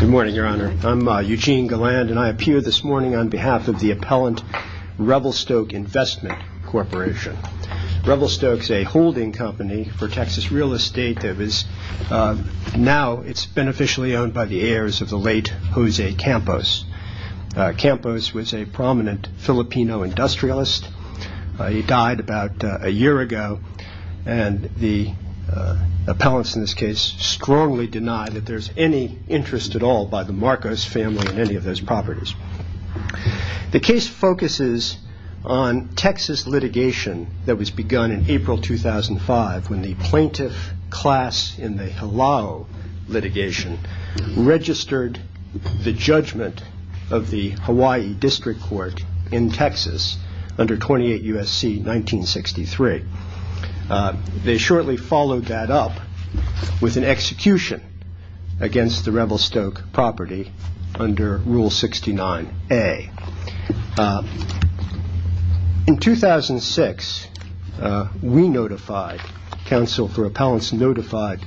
Good morning, Your Honor. I'm Eugene Galland, and I appear this morning on behalf of the appellant Revelstoke Investment Corporation. Revelstoke is a holding company for Texas real estate that is now beneficially owned by the heirs of the late Jose Campos. Campos was a prominent Filipino industrialist. He died about a year ago, and the appellants in this case strongly deny that there's any interest at all by the Marcos family in any of those properties. The case focuses on Texas litigation that was begun in April 2005 when the plaintiff class in the Hilao litigation registered the judgment of the Hawaii District Court in Texas under 28 U.S.C. 1963. They shortly followed that up with an execution against the Revelstoke property under Rule 69A. In 2006, we notified, counsel for appellants notified,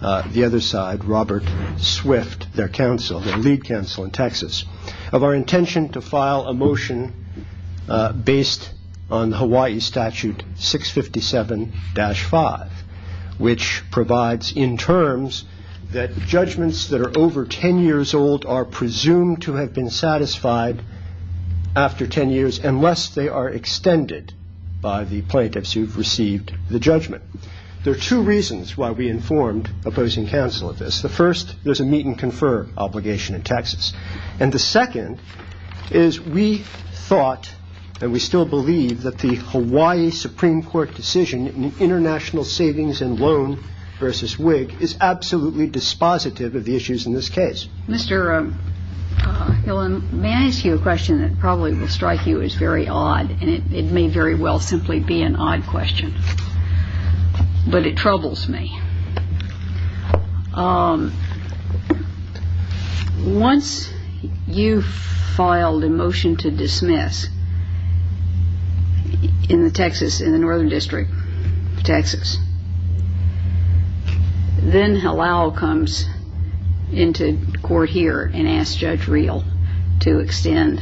the other side, Robert Swift, their counsel, their lead counsel in Texas, of our intention to file a motion based on Hawaii Statute 657-5, which provides in terms that judgments that are over 10 years old are presumed to have been satisfied after 10 years unless they are extended by the plaintiffs who've received the judgment. There are two reasons why we informed opposing counsel of this. The first, there's a meet and confer obligation in Texas. And the second is we thought, and we still believe, that the Hawaii Supreme Court decision in international savings and loan versus WIG is absolutely dispositive of the issues in this case. Mr. Hillen, may I ask you a question that probably will strike you as very odd? And it may very well simply be an odd question, but it troubles me. Once you filed a motion to dismiss in the Texas, in the Northern District of Texas, then Halal comes into court here and asks Judge Reel to extend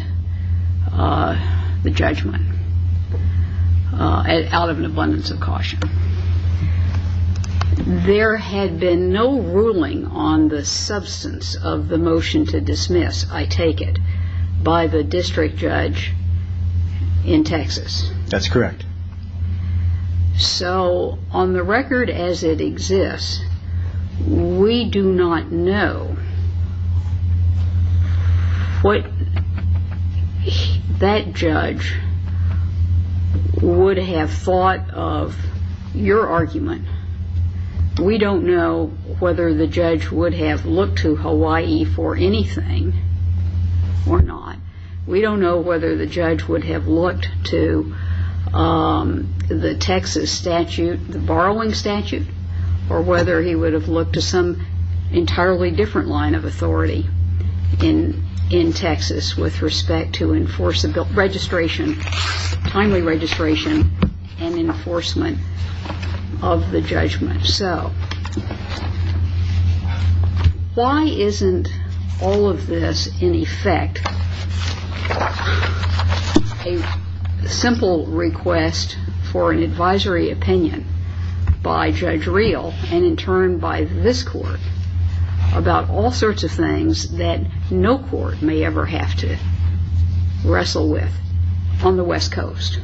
the judgment out of an abundance of caution. There had been no ruling on the substance of the motion to dismiss, I take it, by the district judge in Texas. That's correct. So on the record as it exists, we do not know what that judge would have thought of your argument. We don't know whether the judge would have looked to Hawaii for anything or not. We don't know whether the judge would have looked to the Texas statute, the borrowing statute, or whether he would have looked to some entirely different line of authority in Texas with respect to enforceable registration, timely registration, and enforcement of the judgment. So why isn't all of this, in effect, a simple request for an advisory opinion by Judge Reel and in turn by this court about all sorts of things that no court may ever have to wrestle with on the West Coast?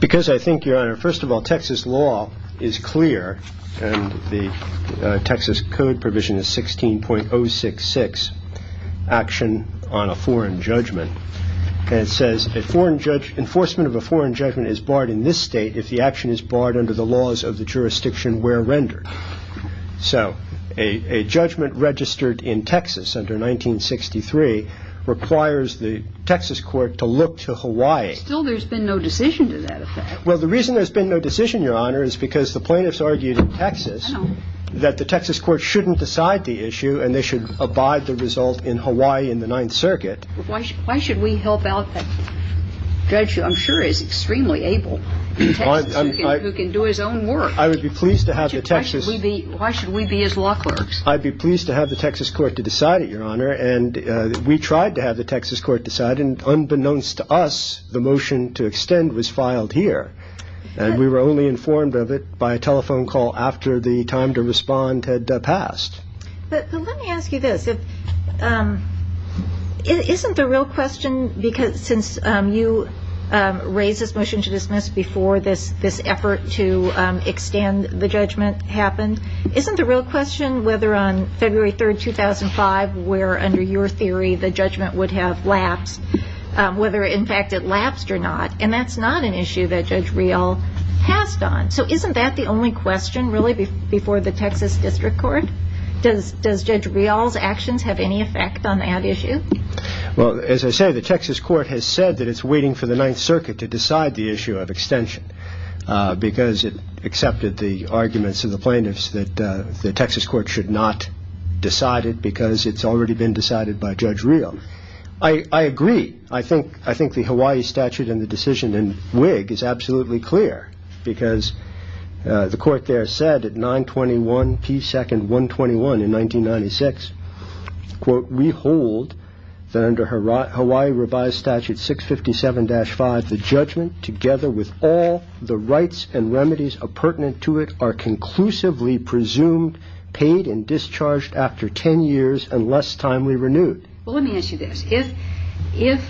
Because I think, Your Honor, first of all, Texas law is clear, and the Texas Code provision is 16.066, action on a foreign judgment. And it says, enforcement of a foreign judgment is barred in this state if the action is barred under the laws of the jurisdiction where rendered. So a judgment registered in Texas under 1963 requires the Texas court to look to Hawaii. Still, there's been no decision to that effect. Well, the reason there's been no decision, Your Honor, is because the plaintiffs argued in Texas that the Texas court shouldn't decide the issue and they should abide the result in Hawaii in the Ninth Circuit. Why should we help out a judge who I'm sure is extremely able, who can do his own work? I would be pleased to have the Texas… Why should we be his law clerks? I'd be pleased to have the Texas court to decide it, Your Honor. And we tried to have the Texas court decide, and unbeknownst to us, the motion to extend was filed here. And we were only informed of it by a telephone call after the time to respond had passed. But let me ask you this. Isn't the real question, because since you raised this motion to dismiss before this effort to extend the judgment happened, isn't the real question whether on February 3rd, 2005, where under your theory the judgment would have lapsed, whether in fact it lapsed or not? And that's not an issue that Judge Rial passed on. So isn't that the only question really before the Texas District Court? Does Judge Rial's actions have any effect on that issue? Well, as I say, the Texas court has said that it's waiting for the Ninth Circuit to decide the issue of extension because it accepted the arguments of the plaintiffs that the Texas court should not decide it because it's already been decided by Judge Rial. I agree. I think the Hawaii statute and the decision in Whig is absolutely clear because the court there said at 921 P. 2nd. 121 in 1996, quote, we hold that under Hawaii revised statute 657-5, the judgment together with all the rights and remedies appurtenant to it are conclusively presumed, paid and discharged after 10 years and less timely renewed. Well, let me ask you this. If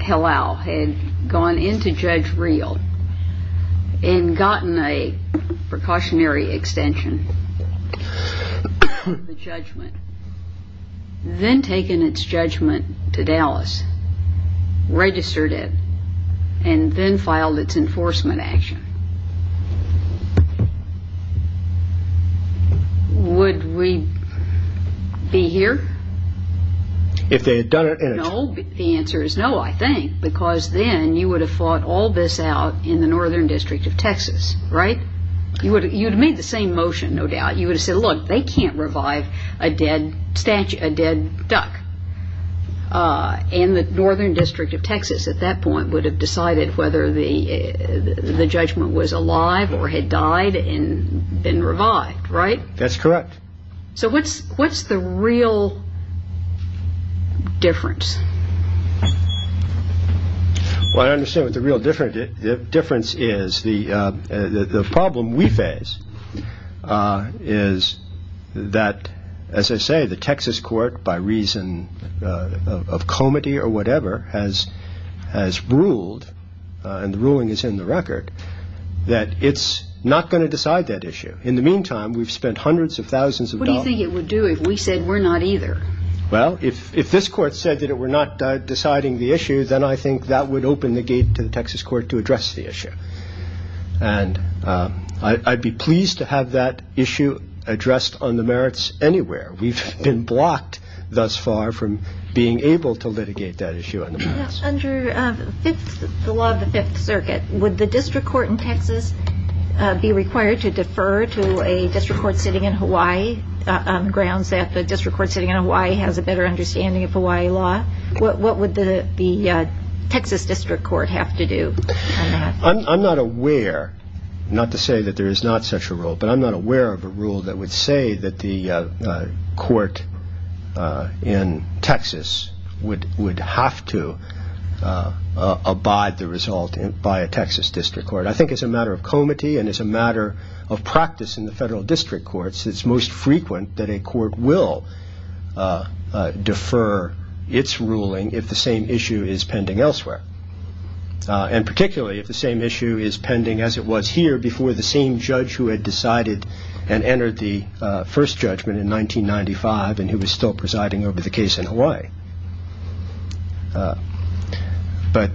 Hillel had gone into Judge Rial and gotten a precautionary extension of the judgment, then taken its judgment to Dallas, registered it and then filed its enforcement action, would we be here? If they had done it? No. The answer is no, I think, because then you would have fought all this out in the Northern District of Texas, right? You would have made the same motion, no doubt. You would have said, look, they can't revive a dead duck. And the Northern District of Texas at that point would have decided whether the judgment was alive or had died and been revived, right? That's correct. So what's the real difference? Well, I understand what the real difference is. The problem we face is that, as I say, the Texas court, by reason of comity or whatever, has ruled, and the ruling is in the record, that it's not going to decide that issue. In the meantime, we've spent hundreds of thousands of dollars. What do you think it would do if we said we're not either? Well, if this court said that it were not deciding the issue, then I think that would open the gate to the Texas court to address the issue. And I'd be pleased to have that issue addressed on the merits anywhere. We've been blocked thus far from being able to litigate that issue on the merits. Under the law of the Fifth Circuit, would the district court in Texas be required to defer to a district court sitting in Hawaii on the grounds that the district court sitting in Hawaii has a better understanding of Hawaii law? What would the Texas district court have to do on that? I'm not aware, not to say that there is not such a rule, but I'm not aware of a rule that would say that the court in Texas would have to abide the result by a Texas district court. I think as a matter of comity and as a matter of practice in the federal district courts, it's most frequent that a court will defer its ruling if the same issue is pending elsewhere, and particularly if the same issue is pending as it was here before the same judge who had decided and entered the first judgment in 1995 and who is still presiding over the case in Hawaii. But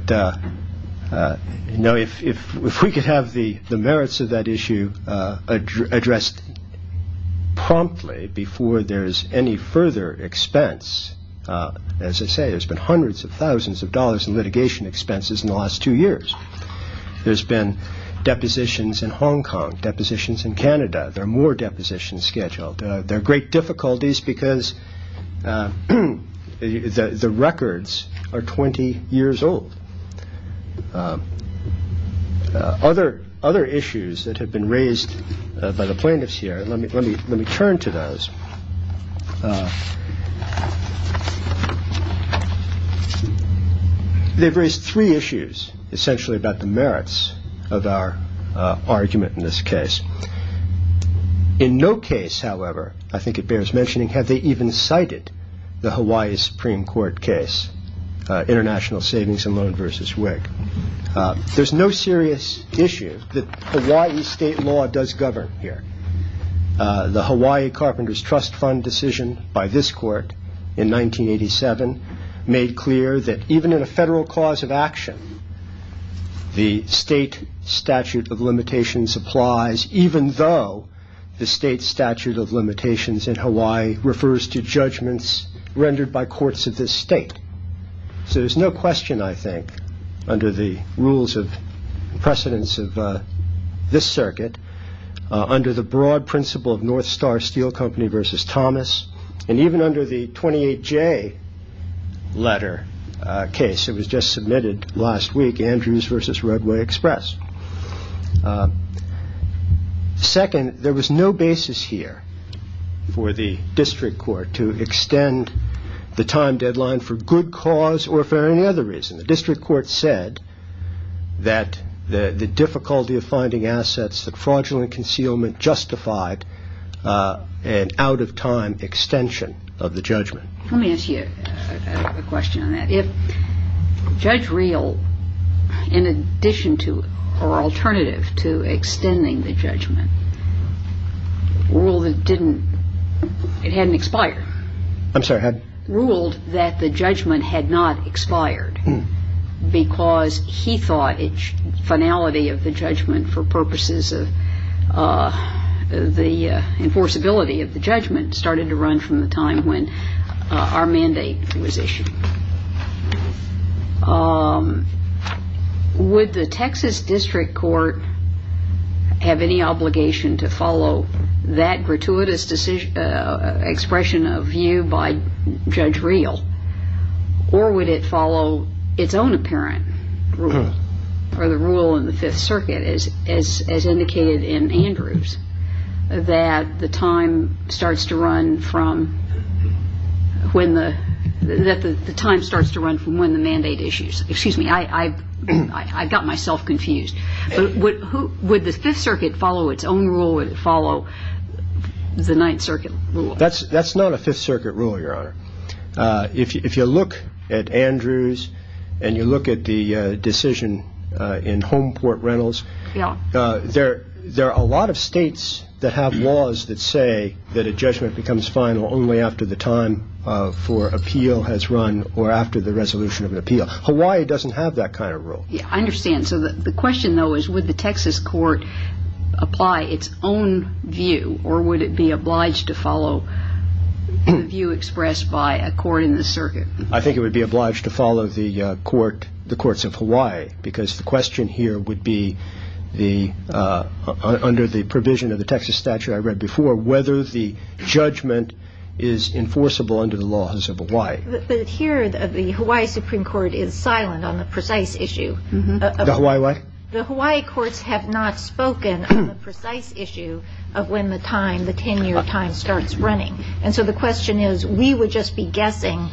if we could have the merits of that issue addressed promptly before there is any further expense, as I say, there's been hundreds of thousands of dollars in litigation expenses in the last two years. There's been depositions in Hong Kong, depositions in Canada. There are more depositions scheduled. There are great difficulties because the records are 20 years old. Other issues that have been raised by the plaintiffs here, let me turn to those. They've raised three issues essentially about the merits of our argument in this case. In no case, however, I think it bears mentioning, have they even cited the Hawaii Supreme Court case, International Savings and Loan v. Whig. There's no serious issue that Hawaii state law does govern here. The Hawaii Carpenters Trust Fund decision by this court in 1987 made clear that even in a federal cause of action, the state statute of limitations applies even though the state statute of limitations in Hawaii refers to judgments rendered by courts of this state. So there's no question, I think, under the rules of precedence of this circuit, under the broad principle of North Star Steel Company v. Thomas, and even under the 28J letter case that was just submitted last week, Andrews v. Roadway Express. Second, there was no basis here for the district court to extend the time deadline for good cause or for any other reason. The district court said that the difficulty of finding assets that fraudulent concealment justified an out-of-time extension of the judgment. Let me ask you a question on that. If Judge Reel, in addition to or alternative to extending the judgment, ruled it didn't, it hadn't expired. I'm sorry, had? The enforceability of the judgment started to run from the time when our mandate was issued. Would the Texas district court have any obligation to follow that gratuitous expression of view by Judge Reel, or would it follow its own apparent rule, or the rule in the Fifth Circuit as indicated in Andrews, that the time starts to run from when the mandate issues? Excuse me, I got myself confused. Would the Fifth Circuit follow its own rule, or would it follow the Ninth Circuit rule? That's not a Fifth Circuit rule, Your Honor. If you look at Andrews, and you look at the decision in Homeport Rentals, there are a lot of states that have laws that say that a judgment becomes final only after the time for appeal has run, or after the resolution of an appeal. Hawaii doesn't have that kind of rule. I understand. The question, though, is would the Texas court apply its own view, or would it be obliged to follow the view expressed by a court in the circuit? I think it would be obliged to follow the courts of Hawaii, because the question here would be, under the provision of the Texas statute I read before, whether the judgment is enforceable under the laws of Hawaii. But here the Hawaii Supreme Court is silent on the precise issue. The Hawaii what? The Hawaii courts have not spoken on the precise issue of when the tenure time starts running. And so the question is, we would just be guessing,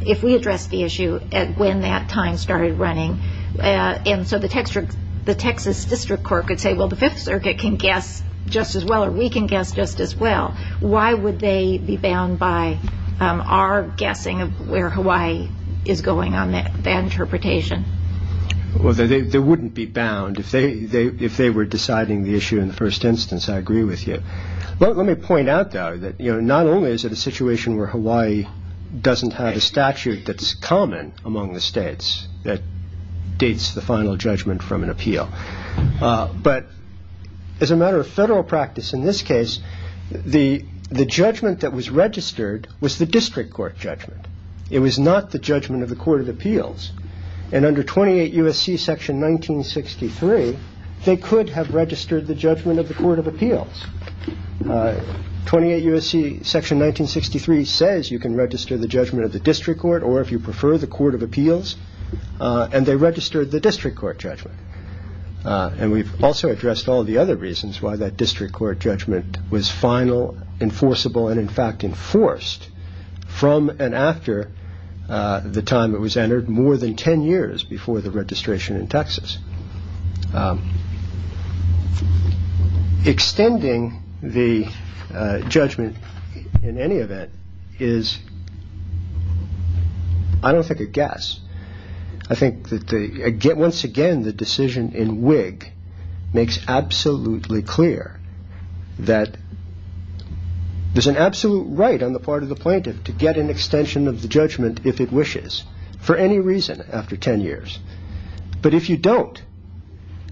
if we addressed the issue, when that time started running. And so the Texas district court could say, well, the Fifth Circuit can guess just as well, or we can guess just as well. Why would they be bound by our guessing of where Hawaii is going on that interpretation? Well, they wouldn't be bound. If they were deciding the issue in the first instance, I agree with you. Let me point out, though, that not only is it a situation where Hawaii doesn't have a statute that's common among the states that dates the final judgment from an appeal, but as a matter of federal practice in this case, the judgment that was registered was the district court judgment. It was not the judgment of the court of appeals. And under 28 U.S.C. Section 1963, they could have registered the judgment of the court of appeals. 28 U.S.C. Section 1963 says you can register the judgment of the district court or, if you prefer, the court of appeals. And they registered the district court judgment. And we've also addressed all the other reasons why that district court judgment was final, enforceable, and, in fact, enforced from and after the time it was entered more than 10 years before the registration in Texas. Extending the judgment in any event is, I don't think, a guess. Once again, the decision in Whig makes absolutely clear that there's an absolute right on the part of the plaintiff to get an extension of the judgment if it wishes for any reason after 10 years. But if you don't,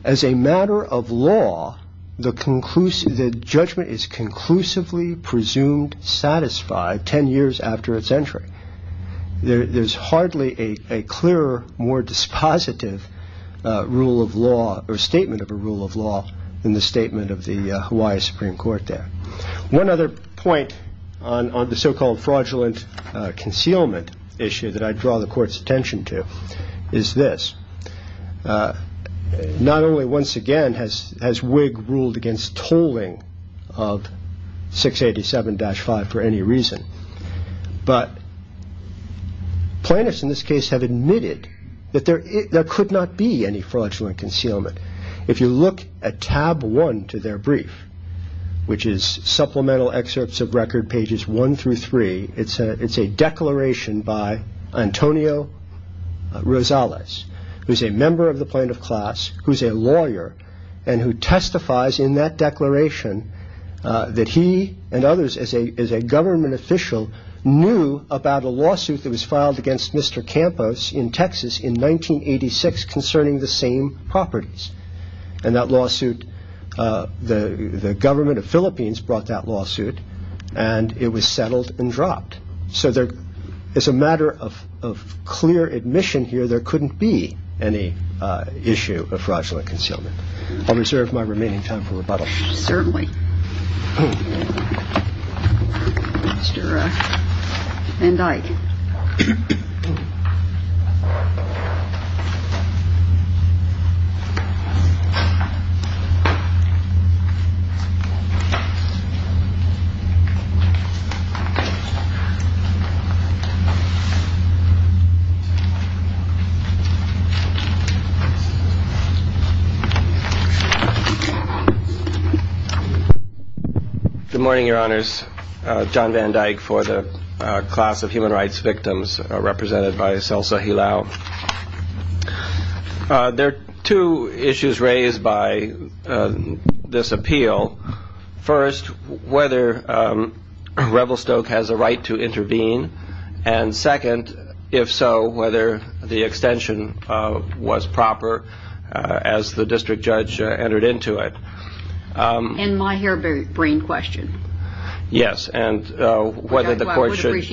as a matter of law, the judgment is conclusively presumed satisfied 10 years after its entry. There's hardly a clearer, more dispositive rule of law or statement of a rule of law than the statement of the Hawaii Supreme Court there. One other point on the so-called fraudulent concealment issue that I draw the court's attention to is this. Not only, once again, has Whig ruled against tolling of 687-5 for any reason, but plaintiffs in this case have admitted that there could not be any fraudulent concealment. If you look at tab 1 to their brief, which is supplemental excerpts of record, pages 1 through 3, it's a declaration by Antonio Rosales, who's a member of the plaintiff class, who's a lawyer, and who testifies in that declaration that he and others, as a government official, knew about a lawsuit that was filed against Mr. Campos in Texas in 1986 concerning the same properties. And that lawsuit, the government of Philippines brought that lawsuit, and it was settled and dropped. So as a matter of clear admission here, there couldn't be any issue of fraudulent concealment. I'll reserve my remaining time for rebuttal. Certainly. And I. Good morning, Your Honors. John Van Dyke for the class of human rights victims represented by Selsa Hilao. There are two issues raised by this appeal. First, whether Revelstoke has a right to intervene. And second, if so, whether the extension was proper as the district judge entered into it. And my harebrained question. Yes, and whether the court should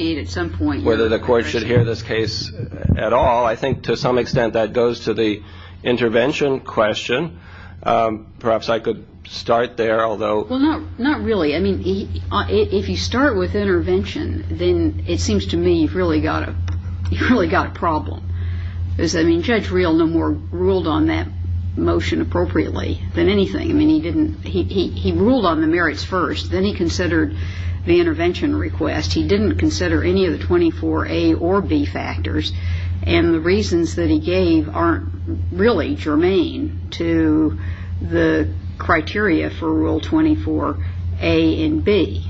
hear this case at all. I think to some extent that goes to the intervention question. Perhaps I could start there, although. Well, not really. I mean, if you start with intervention, then it seems to me you've really got a problem. I mean, Judge Reel no more ruled on that motion appropriately than anything. I mean, he ruled on the merits first. Then he considered the intervention request. He didn't consider any of the 24A or B factors. And the reasons that he gave aren't really germane to the criteria for Rule 24A and B.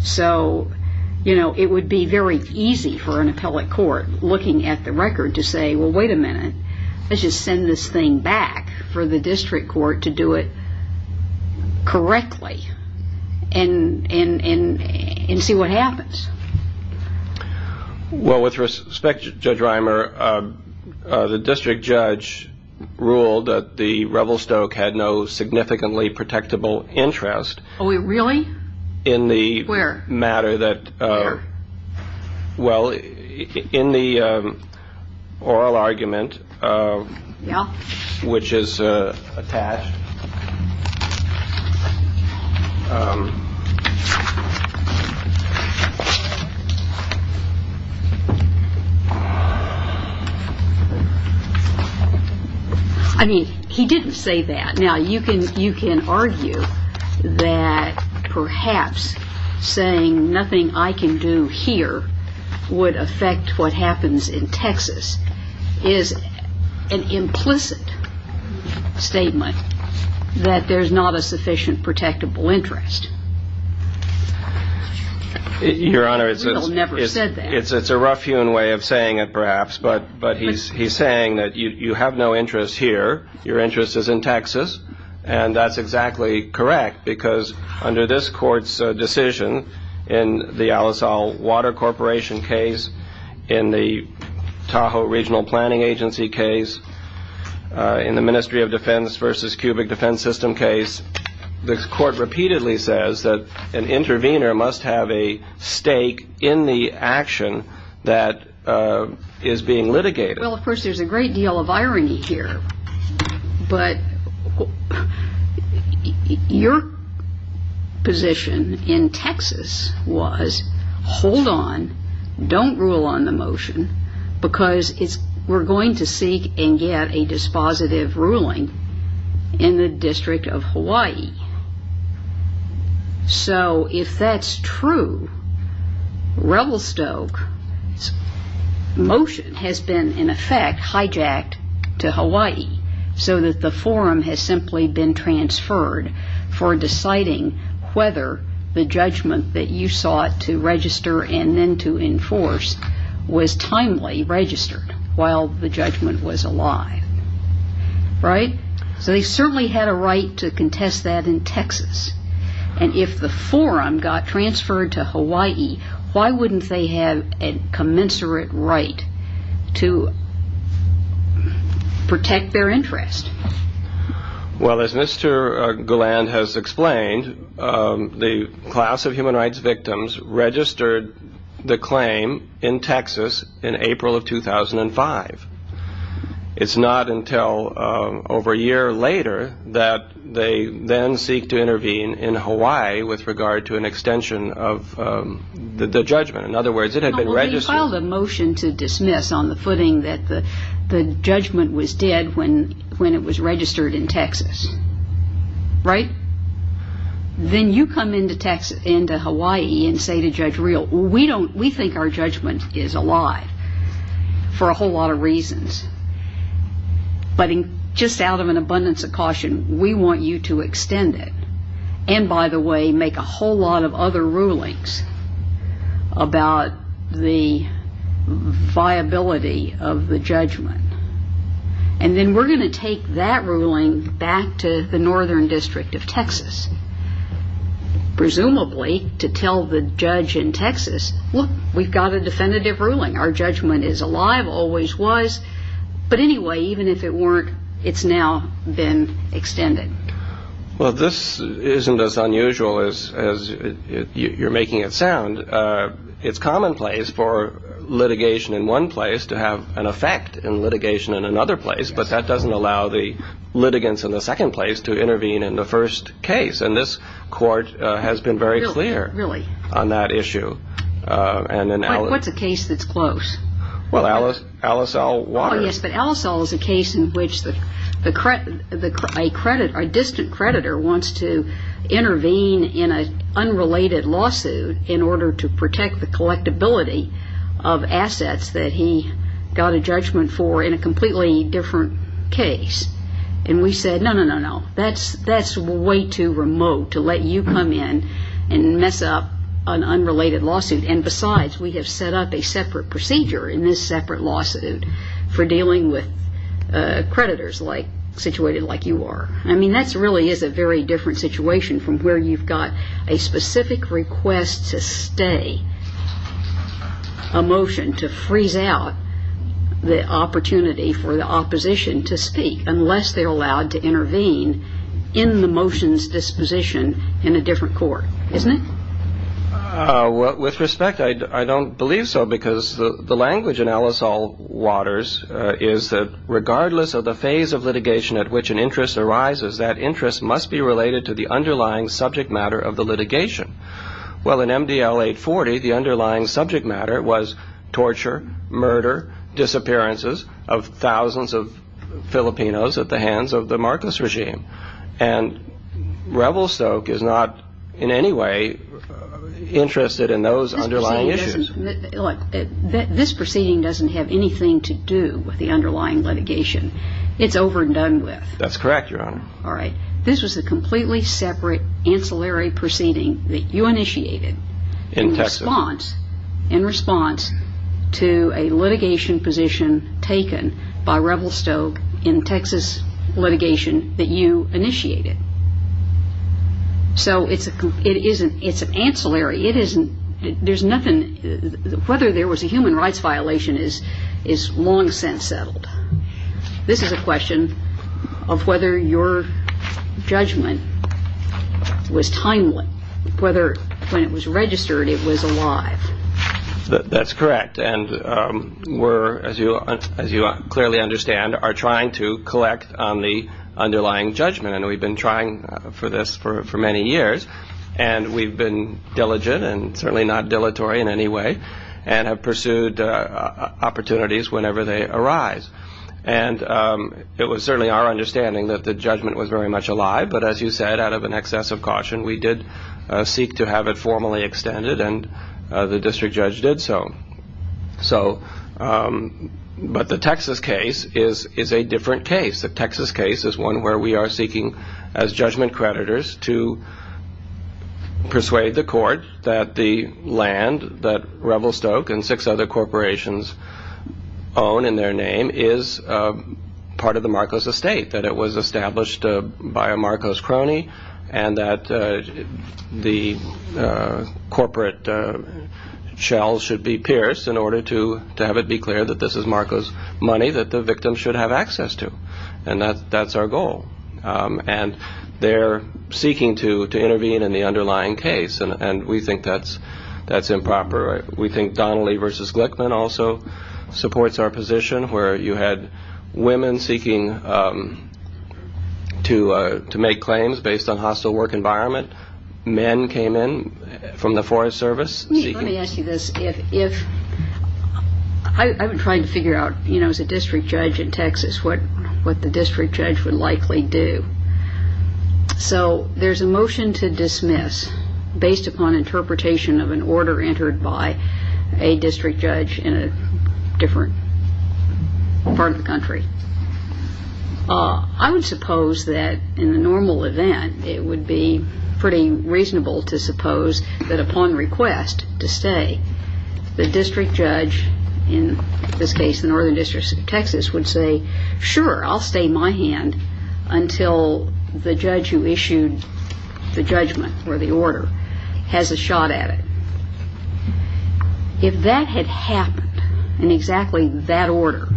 So, you know, it would be very easy for an appellate court looking at the record to say, well, wait a minute. Let's just send this thing back for the district court to do it correctly and see what happens. Well, with respect, Judge Reimer, the district judge ruled that the Revelstoke had no significantly protectable interest. Oh, really? Where? Where? Well, in the oral argument, which is attached. I mean, he didn't say that. Now, you can argue that perhaps saying nothing I can do here would affect what happens in Texas is an implicit statement that there's not a sufficient protectable interest. Your Honor, it's a rough-hewn way of saying it, perhaps. But he's saying that you have no interest here. Your interest is in Texas. And that's exactly correct because under this court's decision in the Al-Asal Water Corporation case, in the Tahoe Regional Planning Agency case, in the Ministry of Defense versus Cubic Defense System case, the court repeatedly says that an intervener must have a stake in the action that is being litigated. Well, of course, there's a great deal of irony here. But your position in Texas was, hold on, don't rule on the motion because we're going to seek and get a dispositive ruling in the District of Hawaii. So if that's true, Revelstoke's motion has been, in effect, hijacked to Hawaii, so that the forum has simply been transferred for deciding whether the judgment that you sought to register and then to enforce was timely registered while the judgment was alive. Right? So they certainly had a right to contest that in Texas. And if the forum got transferred to Hawaii, why wouldn't they have a commensurate right to protect their interest? Well, as Mr. Galland has explained, the class of human rights victims registered the claim in Texas in April of 2005. It's not until over a year later that they then seek to intervene in Hawaii with regard to an extension of the judgment. In other words, it had been registered. Well, they filed a motion to dismiss on the footing that the judgment was dead when it was registered in Texas. Right? Then you come into Hawaii and say to Judge Reel, we think our judgment is alive for a whole lot of reasons. But just out of an abundance of caution, we want you to extend it and, by the way, make a whole lot of other rulings about the viability of the judgment. And then we're going to take that ruling back to the Northern District of Texas, presumably to tell the judge in Texas, look, we've got a definitive ruling. Our judgment is alive, always was. But anyway, even if it weren't, it's now been extended. Well, this isn't as unusual as you're making it sound. It's commonplace for litigation in one place to have an effect in litigation in another place, but that doesn't allow the litigants in the second place to intervene in the first case. And this court has been very clear on that issue. What's a case that's close? Well, Alice L. Waters. Oh, yes, but Alice L. is a case in which a distant creditor wants to intervene in an unrelated lawsuit in order to protect the collectability of assets that he got a judgment for in a completely different case. And we said, no, no, no, no, that's way too remote to let you come in and mess up an unrelated lawsuit. And besides, we have set up a separate procedure in this separate lawsuit for dealing with creditors situated like you are. I mean, that really is a very different situation from where you've got a specific request to stay a motion to freeze out the opportunity for the opposition to speak, unless they're allowed to intervene in the motion's disposition in a different court, isn't it? With respect, I don't believe so, because the language in Alice L. Waters is that regardless of the phase of litigation at which an interest arises, that interest must be related to the underlying subject matter of the litigation. Well, in MDL 840, the underlying subject matter was torture, murder, disappearances of thousands of Filipinos at the hands of the Marcos regime. And Revelstoke is not in any way interested in those underlying issues. This proceeding doesn't have anything to do with the underlying litigation. It's over and done with. That's correct, Your Honor. All right. This was a completely separate ancillary proceeding that you initiated in response to a litigation position taken by Revelstoke in Texas litigation that you initiated. So it's an ancillary. It isn't – there's nothing – whether there was a human rights violation is long since settled. This is a question of whether your judgment was timely, whether when it was registered it was alive. That's correct. And we're, as you clearly understand, are trying to collect on the underlying judgment. And we've been trying for this for many years. And we've been diligent and certainly not dilatory in any way and have pursued opportunities whenever they arise. And it was certainly our understanding that the judgment was very much alive. But as you said, out of an excess of caution, we did seek to have it formally extended, and the district judge did so. But the Texas case is a different case. The Texas case is one where we are seeking as judgment creditors to persuade the court that the land that Revelstoke and six other corporations own in their name is part of the Marcos estate, that it was established by a Marcos crony, and that the corporate shells should be pierced in order to have it be clear that this is Marcos money that the victim should have access to. And that's our goal. And they're seeking to intervene in the underlying case, and we think that's improper. We think Donnelly v. Glickman also supports our position where you had women seeking to make claims based on hostile work environment. Men came in from the Forest Service. Let me ask you this. I've been trying to figure out, you know, as a district judge in Texas what the district judge would likely do. So there's a motion to dismiss based upon interpretation of an order entered by a district judge in a different part of the country. I would suppose that in the normal event it would be pretty reasonable to suppose that upon request to stay, the district judge, in this case the Northern District of Texas, would say, sure, I'll stay my hand until the judge who issued the judgment or the order has a shot at it. If that had happened in exactly that order,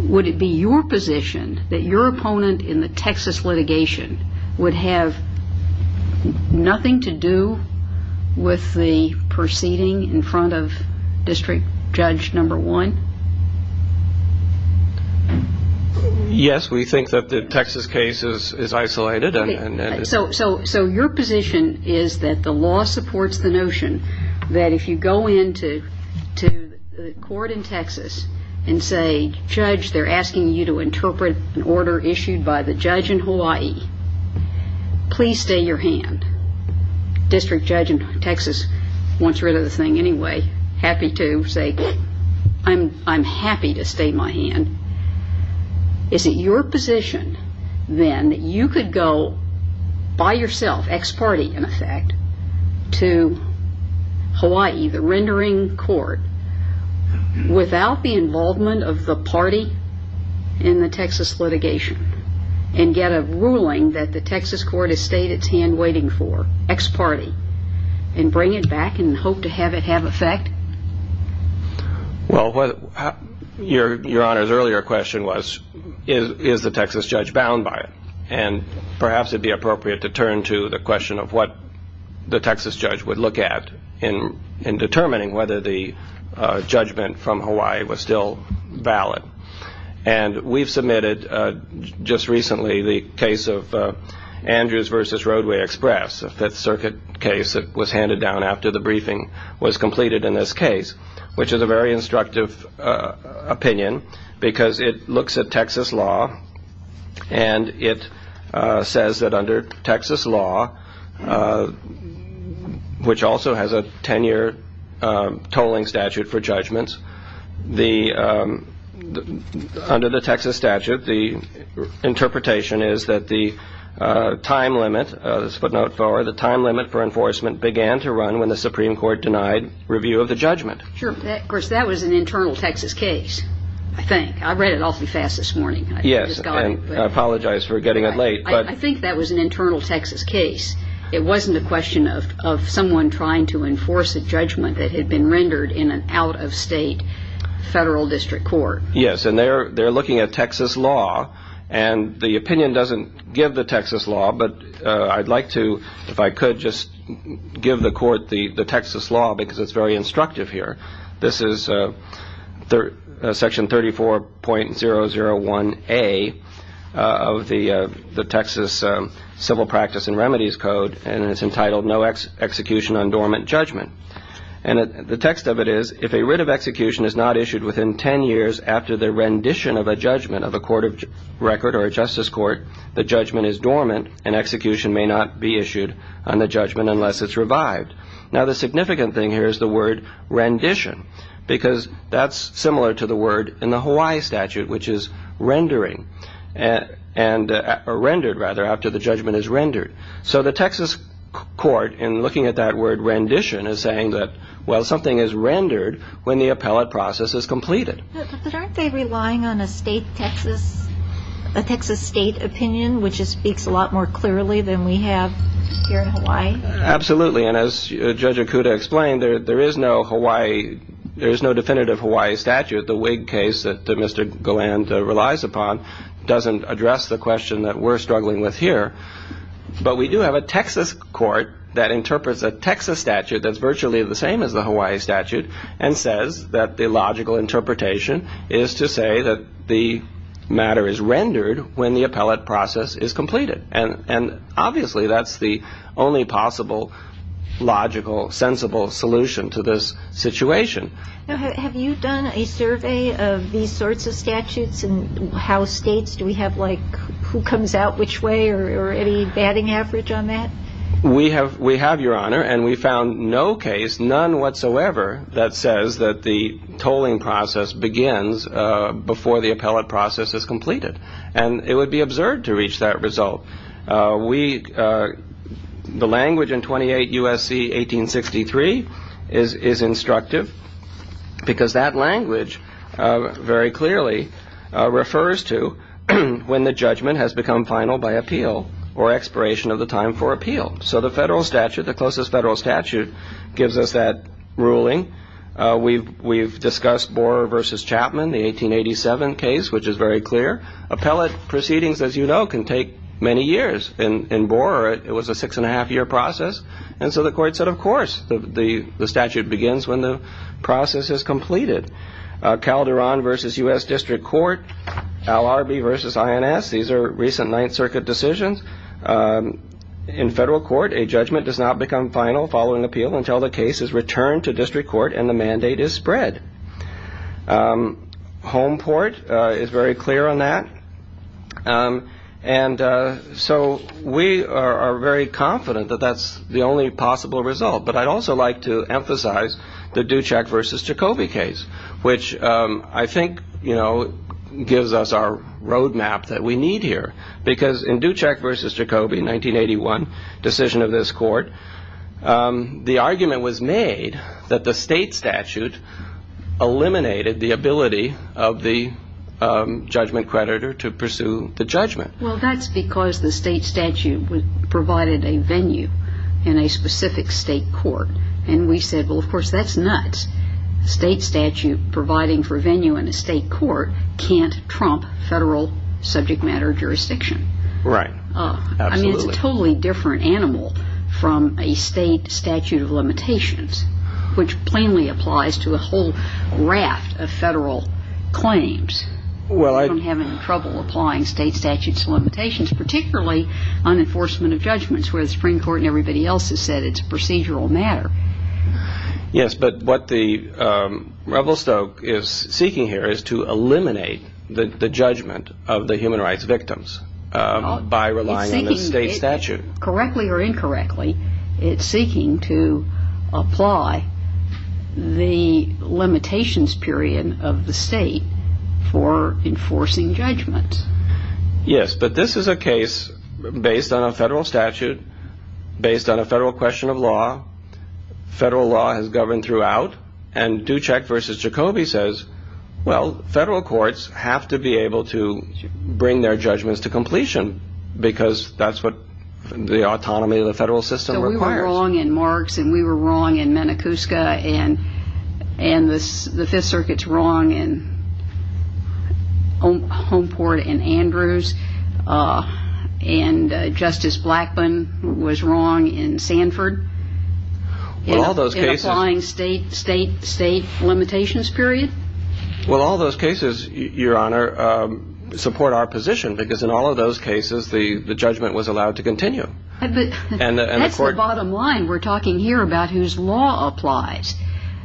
would it be your position that your opponent in the Texas litigation would have nothing to do with the proceeding in front of district judge number one? Yes, we think that the Texas case is isolated. So your position is that the law supports the notion that if you go into the court in Texas and say, Judge, they're asking you to interpret an order issued by the judge in Hawaii. Please stay your hand. District judge in Texas wants rid of the thing anyway, happy to say, I'm happy to stay my hand. Is it your position then that you could go by yourself, ex-party in effect, to Hawaii, the rendering court, without the involvement of the party in the Texas litigation, and get a ruling that the Texas court has stayed its hand waiting for, ex-party, and bring it back and hope to have it have effect? Well, your Honor's earlier question was, is the Texas judge bound by it? And perhaps it would be appropriate to turn to the question of what the Texas judge would look at in determining whether the judgment from Hawaii was still valid. And we've submitted just recently the case of Andrews v. Roadway Express, a Fifth Circuit case that was handed down after the briefing was completed in this case, which is a very instructive opinion because it looks at Texas law, and it says that under Texas law, which also has a 10-year tolling statute for judgments, under the Texas statute, the interpretation is that the time limit for enforcement began to run when the Supreme Court denied review of the judgment. Of course, that was an internal Texas case, I think. I read it awfully fast this morning. Yes, and I apologize for getting it late. I think that was an internal Texas case. It wasn't a question of someone trying to enforce a judgment that had been rendered in an out-of-state federal district court. Yes, and they're looking at Texas law, and the opinion doesn't give the Texas law, but I'd like to, if I could, just give the court the Texas law because it's very instructive here. This is Section 34.001A of the Texas Civil Practice and Remedies Code, and it's entitled No Execution on Dormant Judgment. And the text of it is, If a writ of execution is not issued within 10 years after the rendition of a judgment of a court of record or a justice court, the judgment is dormant, and execution may not be issued on the judgment unless it's revived. Now, the significant thing here is the word rendition because that's similar to the word in the Hawaii statute, which is rendering, or rendered, rather, after the judgment is rendered. So the Texas court, in looking at that word rendition, is saying that, well, something is rendered when the appellate process is completed. But aren't they relying on a state Texas, a Texas state opinion, which speaks a lot more clearly than we have here in Hawaii? Absolutely, and as Judge Okuda explained, there is no Hawaii, there is no definitive Hawaii statute. The Whig case that Mr. Galland relies upon doesn't address the question that we're struggling with here. But we do have a Texas court that interprets a Texas statute that's virtually the same as the Hawaii statute and says that the logical interpretation is to say that the matter is rendered when the appellate process is completed. And obviously, that's the only possible, logical, sensible solution to this situation. Now, have you done a survey of these sorts of statutes and how states do we have, like, who comes out which way or any batting average on that? We have, Your Honor, and we found no case, none whatsoever, that says that the tolling process begins before the appellate process is completed. And it would be absurd to reach that result. The language in 28 U.S.C. 1863 is instructive because that language very clearly refers to when the judgment has become final by appeal or expiration of the time for appeal. So the federal statute, the closest federal statute, gives us that ruling. We've discussed Borer v. Chapman, the 1887 case, which is very clear. Appellate proceedings, as you know, can take many years. In Borer, it was a six-and-a-half-year process. And so the court said, of course, the statute begins when the process is completed. Calderon v. U.S. District Court, Al Arby v. INS, these are recent Ninth Circuit decisions. In federal court, a judgment does not become final following appeal until the case is returned to district court and the mandate is spread. Homeport is very clear on that. And so we are very confident that that's the only possible result. But I'd also like to emphasize the Ducek v. Jacoby case, which I think gives us our roadmap that we need here. Because in Ducek v. Jacoby, 1981 decision of this court, the argument was made that the state statute eliminated the ability of the judgment creditor to pursue the judgment. Well, that's because the state statute provided a venue in a specific state court. And we said, well, of course, that's nuts. State statute providing for venue in a state court can't trump federal subject matter jurisdiction. Right. Absolutely. It's a totally different animal from a state statute of limitations, which plainly applies to a whole raft of federal claims. Well, I'm having trouble applying state statutes of limitations, particularly on enforcement of judgments where the Supreme Court and everybody else has said it's a procedural matter. Yes, but what the Revelstoke is seeking here is to eliminate the judgment of the human rights victims by relying on the state statute. Correctly or incorrectly, it's seeking to apply the limitations period of the state for enforcing judgments. Yes, but this is a case based on a federal statute, based on a federal question of law. Federal law has governed throughout. And Ducek versus Jacobi says, well, federal courts have to be able to bring their judgments to completion because that's what the autonomy of the federal system requires. So we were wrong in Marks and we were wrong in Manacusca and the Fifth Circuit's wrong in Homeport and Andrews. And Justice Blackburn was wrong in Sanford. Well, all those cases. In applying state, state, state limitations period. Well, all those cases, Your Honor, support our position because in all of those cases, the judgment was allowed to continue. But that's the bottom line we're talking here about whose law applies.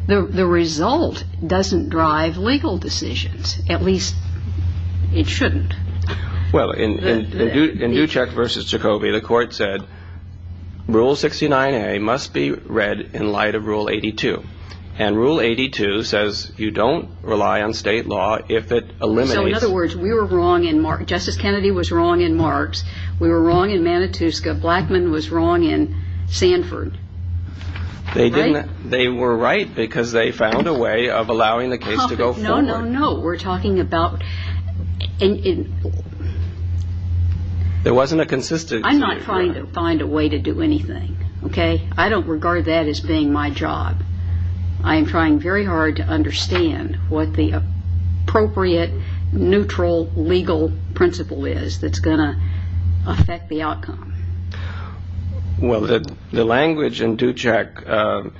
The result doesn't drive legal decisions, at least it shouldn't. Well, in Ducek versus Jacobi, the court said Rule 69A must be read in light of Rule 82. And Rule 82 says you don't rely on state law if it eliminates. So in other words, we were wrong in Marks. Justice Kennedy was wrong in Marks. We were wrong in Manacusca. Blackman was wrong in Sanford. They were right because they found a way of allowing the case to go forward. Well, no, we're talking about. There wasn't a consistent. I'm not trying to find a way to do anything. OK, I don't regard that as being my job. I am trying very hard to understand what the appropriate neutral legal principle is that's going to affect the outcome. Well, the language in Ducek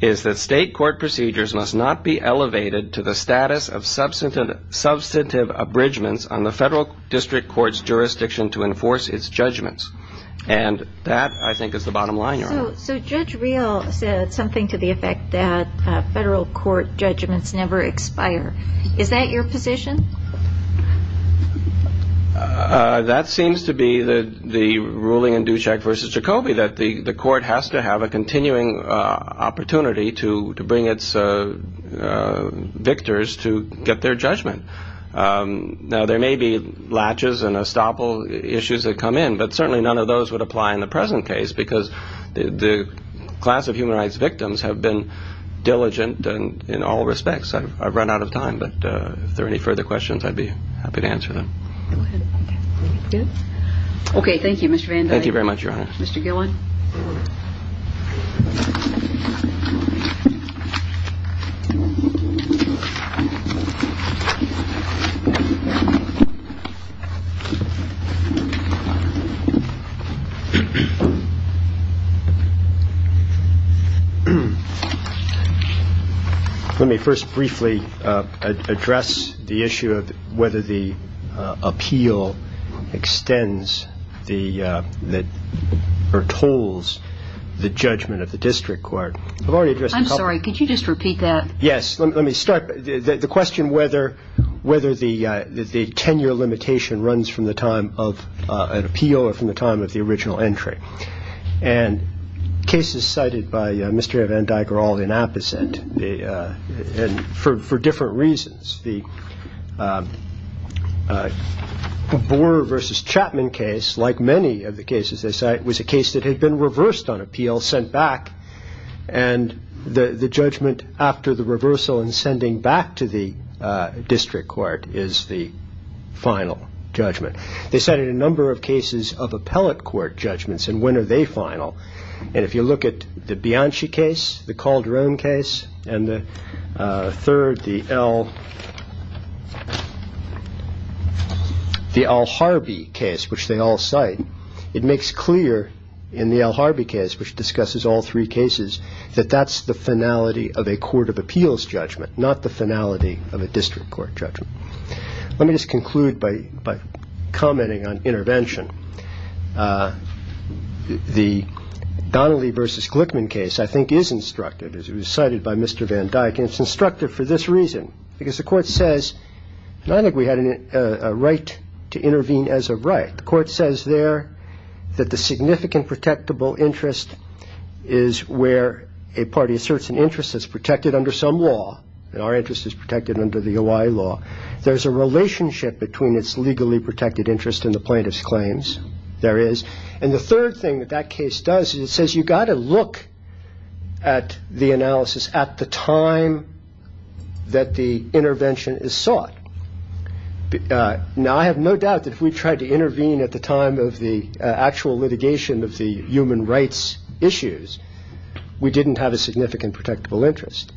is that state court procedures must not be elevated to the status of substantive, substantive abridgments on the federal district court's jurisdiction to enforce its judgments. And that, I think, is the bottom line. So Judge Real said something to the effect that federal court judgments never expire. Is that your position? That seems to be the the ruling in Ducek versus Jacoby, that the court has to have a continuing opportunity to bring its victors to get their judgment. Now, there may be latches and estoppel issues that come in, but certainly none of those would apply in the present case because the class of human rights victims have been diligent. And in all respects, I've run out of time. But if there are any further questions, I'd be happy to answer them. OK. Thank you, Mr. Van Dyke. Thank you very much, Your Honor. Mr. Gillen. Let me first briefly address the issue of whether the appeal extends the that are told the judgment of the district court. I'm sorry. Could you just repeat that? Yes. Let me start. The question whether whether the tenure limitation runs from the time of an appeal or from the time of the original entry and cases cited by Mr. Van Dyke are all the opposite. And for different reasons, the Boer versus Chapman case, like many of the cases they cite, was a case that had been reversed on appeal, sent back. And the judgment after the reversal and sending back to the district court is the final judgment. They said in a number of cases of appellate court judgments. And when are they final? And if you look at the Bianchi case, the Calderon case and the third, the L. The Al Harbi case, which they all cite, it makes clear in the Al Harbi case, which discusses all three cases, that that's the finality of a court of appeals judgment, not the finality of a district court judgment. Let me just conclude by commenting on intervention. The Donnelly versus Glickman case, I think, is instructive, as it was cited by Mr. Van Dyke. And it's instructive for this reason, because the court says, I think we had a right to intervene as a right. The court says there that the significant protectable interest is where a party asserts an interest that's protected under some law. And our interest is protected under the law. There's a relationship between its legally protected interest in the plaintiff's claims. There is. And the third thing that that case does is it says you've got to look at the analysis at the time that the intervention is sought. Now, I have no doubt that if we tried to intervene at the time of the actual litigation of the human rights issues, we didn't have a significant protectable interest.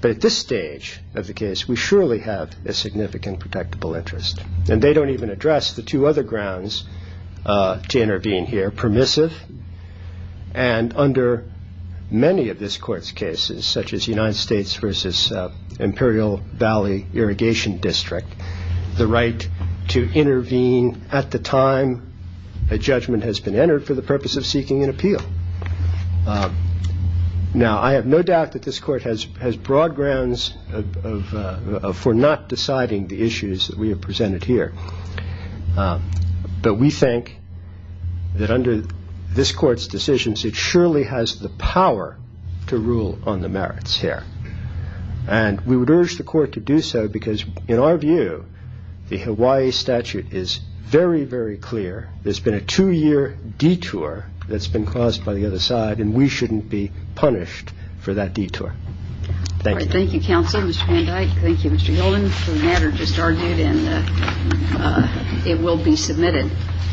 But at this stage of the case, we surely have a significant protectable interest. And they don't even address the two other grounds to intervene here, permissive and under many of this court's cases, such as United States versus Imperial Valley Irrigation District, the right to intervene at the time a judgment has been entered for the purpose of seeking an appeal. Now, I have no doubt that this court has broad grounds for not deciding the issues that we have presented here. But we think that under this court's decisions, it surely has the power to rule on the merits here. And we would urge the court to do so because in our view, the Hawaii statute is very, very clear. There's been a two-year detour that's been caused by the other side, and we shouldn't be punished for that detour. Thank you. Thank you, counsel, Mr. Van Dyke. Thank you, Mr. Hilton, for the matter just argued, and it will be submitted.